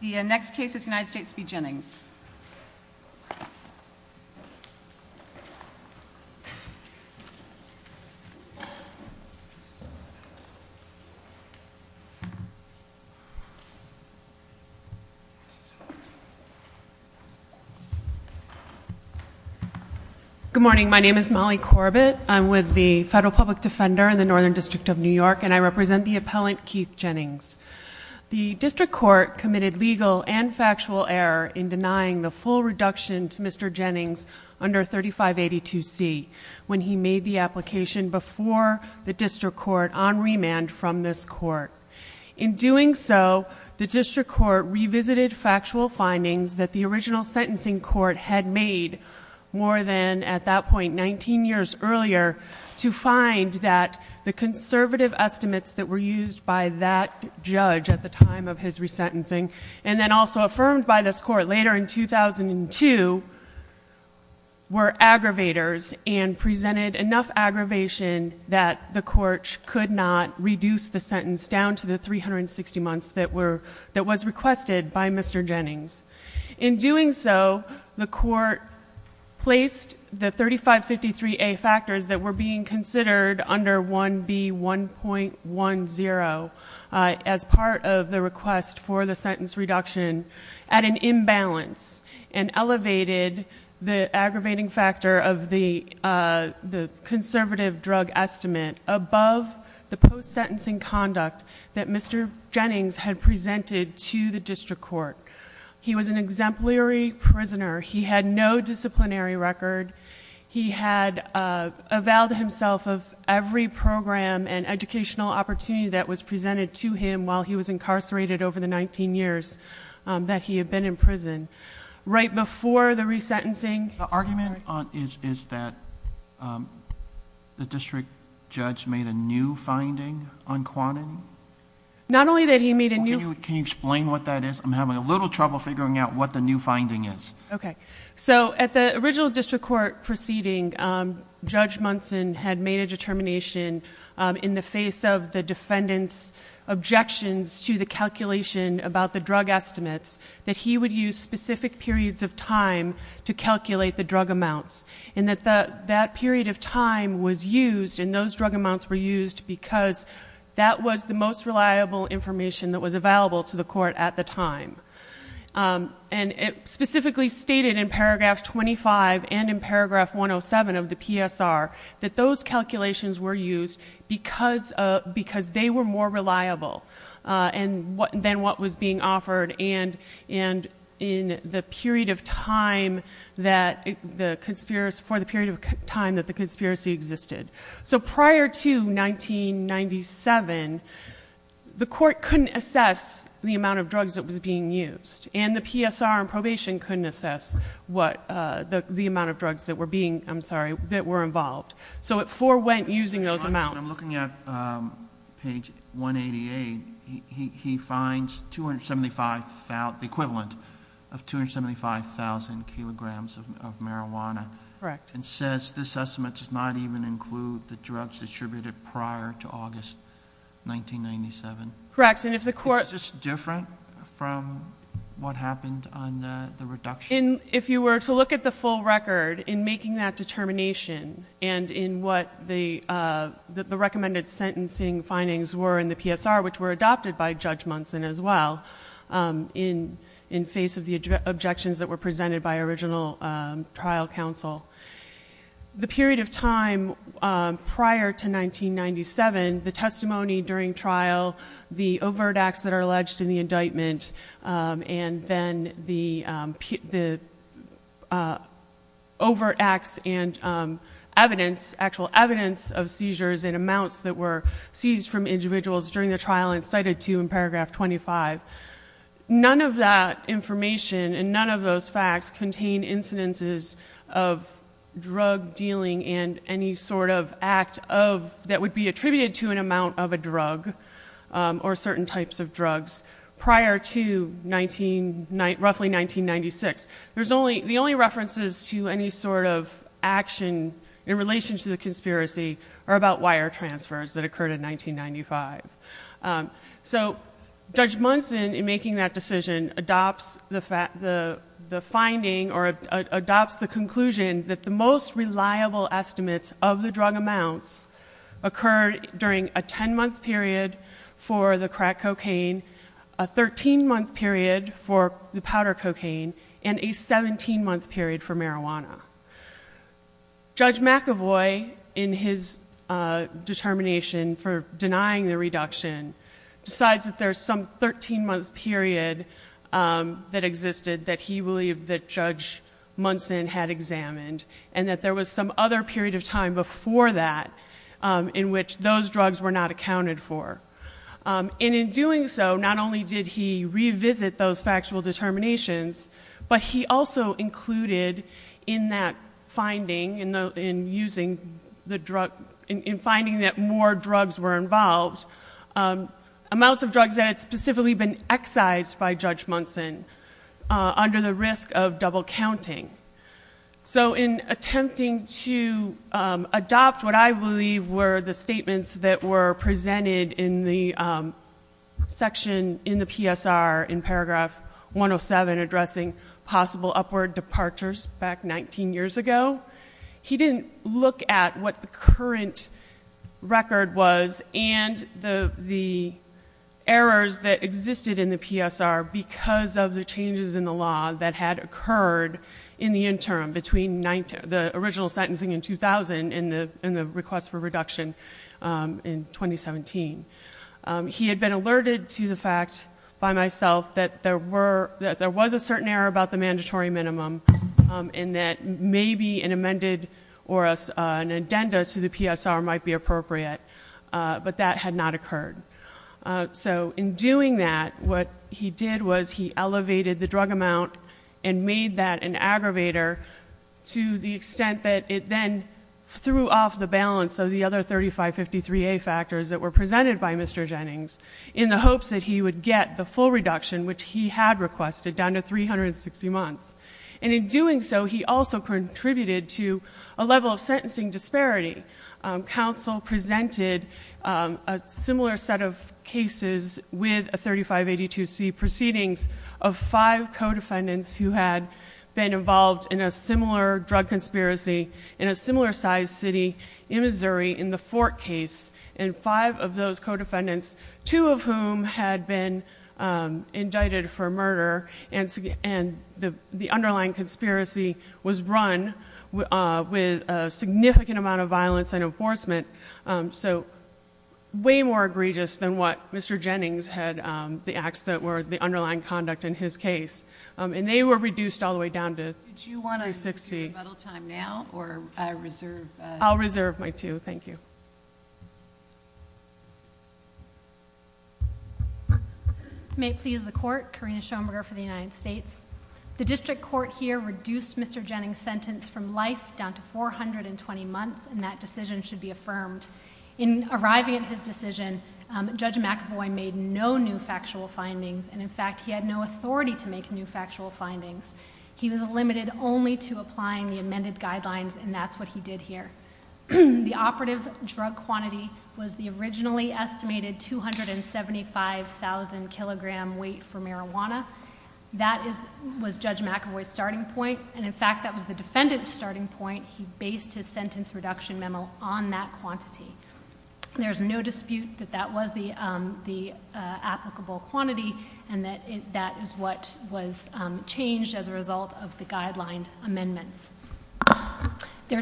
The next case is United States v. Jennings. Good morning. My name is Molly Corbett. I'm with the Federal Public Defender in the Northern District of New York, and I represent the appellant Keith Jennings. The district court committed legal and factual error in denying the full reduction to Mr. Jennings under 3582C when he made the application before the district court on remand from this court. In doing so, the district court revisited factual findings that the original sentencing court had made more than, at that point, 19 years earlier to find that the conservative estimates that were used by that judge at the time of his resentencing, and then also affirmed by this court later in 2002, were aggravators and presented enough aggravation that the court could not reduce the sentence down to the 360 months that was requested by Mr. Jennings. In doing so, the court placed the 3553A factors that were being considered under 1B1.10 as part of the request for the sentence reduction at an imbalance and elevated the aggravating factor of the conservative drug estimate above the post-sentencing conduct that Mr. Jennings had presented to the district court. He was an exemplary prisoner. He had no disciplinary record. He had avowed himself of every program and educational opportunity that was presented to him while he was incarcerated over the 19 years that he had been in prison. Right before the resentencing... The argument is that the district judge made a new finding on quantity? Not only that he made a new... Can you explain what that is? I'm having a little trouble figuring out what the new finding is. Okay. So at the original district court proceeding, Judge Munson had made a determination in the face of the defendant's objections to the calculation about the drug estimates that he would use specific periods of time to calculate the drug amounts. And that that period of time was used and those drug amounts were used because that was the most reliable information that was available to the court at the time. And it specifically stated in paragraph 25 and in paragraph 107 of the PSR that those calculations were used because they were more reliable than what was being offered. And in the period of time that the conspiracy... for the period of time that the conspiracy existed. So prior to 1997, the court couldn't assess the amount of drugs that was being used. And the PSR in probation couldn't assess what the amount of drugs that were being... I'm sorry... that were involved. I'm looking at page 188. He finds the equivalent of 275,000 kilograms of marijuana. Correct. And says this estimate does not even include the drugs distributed prior to August 1997. Correct. And if the court... Is this different from what happened on the reduction? If you were to look at the full record in making that determination and in what the recommended sentencing findings were in the PSR, which were adopted by Judge Munson as well. In face of the objections that were presented by original trial counsel. The period of time prior to 1997, the testimony during trial, the overt acts that are alleged in the indictment... And then the overt acts and evidence, actual evidence of seizures and amounts that were seized from individuals during the trial and cited to in paragraph 25. None of that information and none of those facts contain incidences of drug dealing and any sort of act of... Roughly 1996. There's only... The only references to any sort of action in relation to the conspiracy are about wire transfers that occurred in 1995. So, Judge Munson in making that decision adopts the finding or adopts the conclusion that the most reliable estimates of the drug amounts... Occurred during a 10-month period for the crack cocaine, a 13-month period for the powder cocaine and a 17-month period for marijuana. Judge McAvoy, in his determination for denying the reduction, decides that there's some 13-month period that existed that he believed that Judge Munson had examined. And that there was some other period of time before that, in which those drugs were not accounted for. And in doing so, not only did he revisit those factual determinations, but he also included in that finding, in using the drug... In finding that more drugs were involved, amounts of drugs that had specifically been excised by Judge Munson, under the risk of double counting. So, in attempting to adopt what I believe were the statements that were presented in the section in the PSR in paragraph 107... Addressing possible upward departures, back 19 years ago. He didn't look at what the current record was and the errors that existed in the PSR... In the interim, between the original sentencing in 2000 and the request for reduction in 2017. He had been alerted to the fact, by myself, that there were... that there was a certain error about the mandatory minimum. And that maybe an amended or an addenda to the PSR might be appropriate. But, that had not occurred. So, in doing that, what he did was he elevated the drug amount and made that an aggravator... To the extent that it then threw off the balance of the other 3553A factors that were presented by Mr. Jennings... In the hopes that he would get the full reduction, which he had requested, down to 360 months. And in doing so, he also contributed to a level of sentencing disparity. Council presented a similar set of cases with a 3582C proceedings... Of five co-defendants who had been involved in a similar drug conspiracy... In a similar size city in Missouri, in the Fort case. And five of those co-defendants, two of whom had been indicted for murder... And, the underlying conspiracy was run with a significant amount of violence and enforcement. So, way more egregious than what Mr. Jennings had... The acts that were the underlying conduct in his case. And, they were reduced all the way down to 360. Did you want to do rebuttal time now, or reserve? I'll reserve my two. Thank you. May it please the Court, Karina Schoenberger for the United States. The District Court here reduced Mr. Jennings' sentence from life down to 420 months. And, that decision should be affirmed. In arriving at his decision, Judge McAvoy made no new factual findings. And, in fact, he had no authority to make new factual findings. He was limited only to applying the amended guidelines, and that's what he did here. The operative drug quantity was the originally estimated 275,000 kilogram weight for marijuana. That was Judge McAvoy's starting point. And, in fact, that was the defendant's starting point. He based his sentence reduction memo on that quantity. There's no dispute that that was the applicable quantity. And, that is what was changed as a result of the guideline amendments. The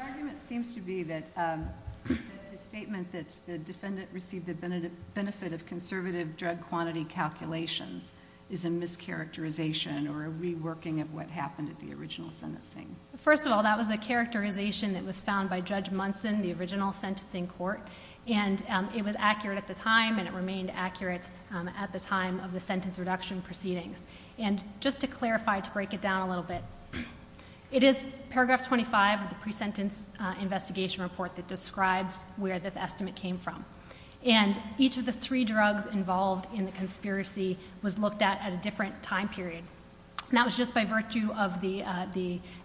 argument seems to be that the statement that the defendant received the benefit of conservative drug quantity calculations is a mischaracterization, or a reworking of what happened at the original sentencing. First of all, that was a characterization that was found by Judge Munson, the original sentencing court. And, it was accurate at the time, and it remained accurate at the time of the sentence reduction proceedings. And, just to clarify, to break it down a little bit, it is paragraph 25 of the pre-sentence investigation report that describes where this estimate came from. And, each of the three drugs involved in the conspiracy was looked at at a different time period. And, that was just by virtue of the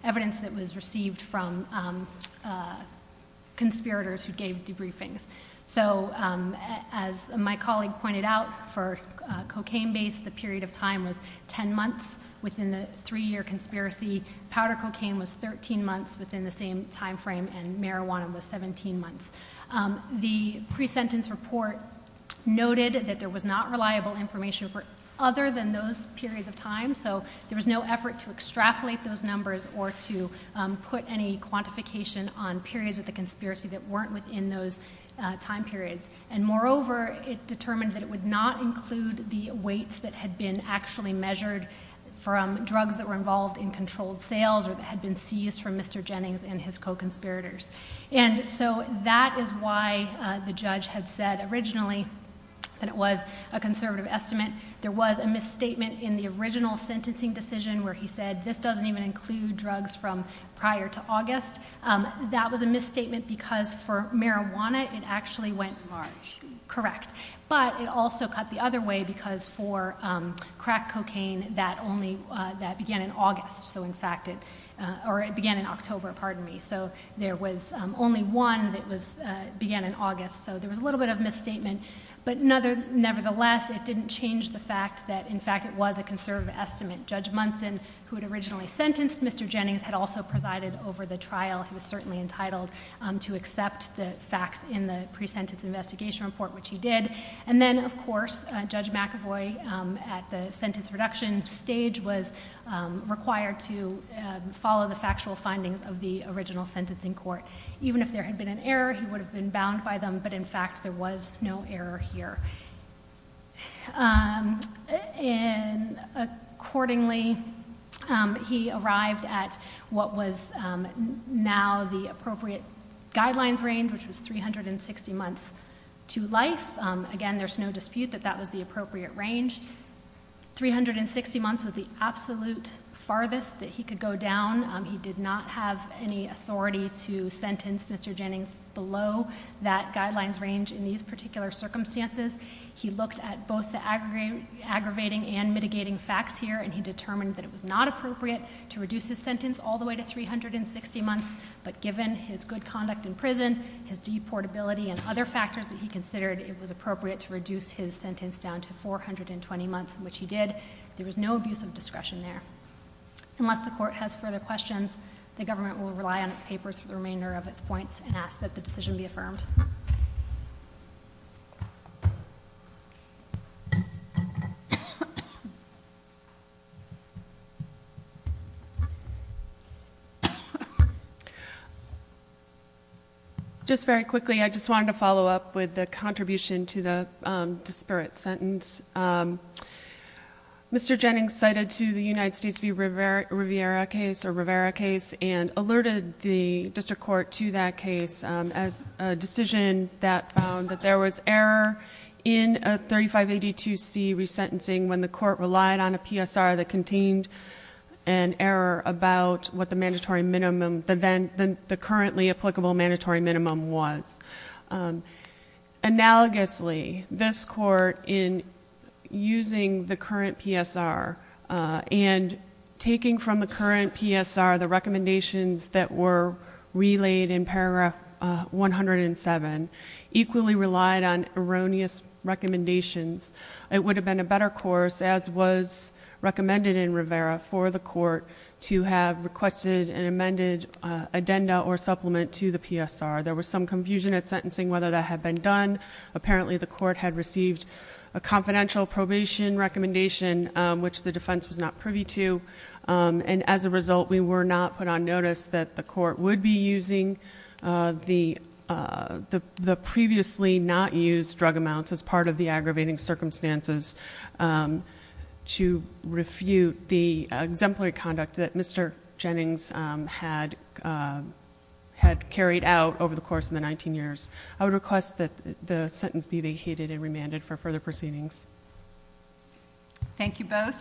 evidence that was received from conspirators who gave debriefings. So, as my colleague pointed out, for cocaine-based, the period of time was 10 months within the three-year conspiracy. Powder cocaine was 13 months within the same time frame, and marijuana was 17 months. The pre-sentence report noted that there was not reliable information for other than those periods of time. So, there was no effort to extrapolate those numbers, or to put any quantification on periods of the conspiracy that weren't within those time periods. And, moreover, it determined that it would not include the weights that had been actually measured from drugs that were involved in controlled sales, or that had been seized from Mr. Jennings and his co-conspirators. And so, that is why the judge had said originally that it was a conservative estimate. There was a misstatement in the original sentencing decision where he said, this doesn't even include drugs from prior to August. That was a misstatement because for marijuana, it actually went large. Correct. But, it also cut the other way because for crack cocaine, that began in August. So, in fact, it began in October, pardon me. So, there was only one that began in August. So, there was a little bit of misstatement. But, nevertheless, it didn't change the fact that, in fact, it was a conservative estimate. Judge Munson, who had originally sentenced Mr. Jennings, had also presided over the trial. He was certainly entitled to accept the facts in the pre-sentence investigation report, which he did. And then, of course, Judge McAvoy, at the sentence reduction stage, was required to follow the factual findings of the original sentencing court. So, even if there had been an error, he would have been bound by them. But, in fact, there was no error here. Accordingly, he arrived at what was now the appropriate guidelines range, which was 360 months to life. Again, there's no dispute that that was the appropriate range. 360 months was the absolute farthest that he could go down. He did not have any authority to sentence Mr. Jennings below that guidelines range in these particular circumstances. He looked at both the aggravating and mitigating facts here, and he determined that it was not appropriate to reduce his sentence all the way to 360 months. But, given his good conduct in prison, his deportability, and other factors that he considered, it was appropriate to reduce his sentence down to 420 months, which he did. There was no abuse of discretion there. Unless the court has further questions, the government will rely on its papers for the remainder of its points and ask that the decision be affirmed. Just very quickly, I just wanted to follow up with the contribution to the disparate sentence. Mr. Jennings cited to the United States v. Rivera case and alerted the district court to that case as a decision that found that there was error in a 3582C resentencing when the court relied on a PSR that contained an error about what the currently applicable mandatory minimum was. Analogously, this court, in using the current PSR and taking from the current PSR the recommendations that were relayed in paragraph 107, equally relied on erroneous recommendations. It would have been a better course, as was recommended in Rivera, for the court to have requested an amended addenda or supplement to the PSR. There was some confusion at sentencing whether that had been done. Apparently, the court had received a confidential probation recommendation, which the defense was not privy to. And as a result, we were not put on notice that the court would be using the previously not used drug amounts as part of the aggravating circumstances to refute the exemplary conduct that Mr. Jennings had carried out over the course of the 19 years. I would request that the sentence be vacated and remanded for further proceedings. Thank you both.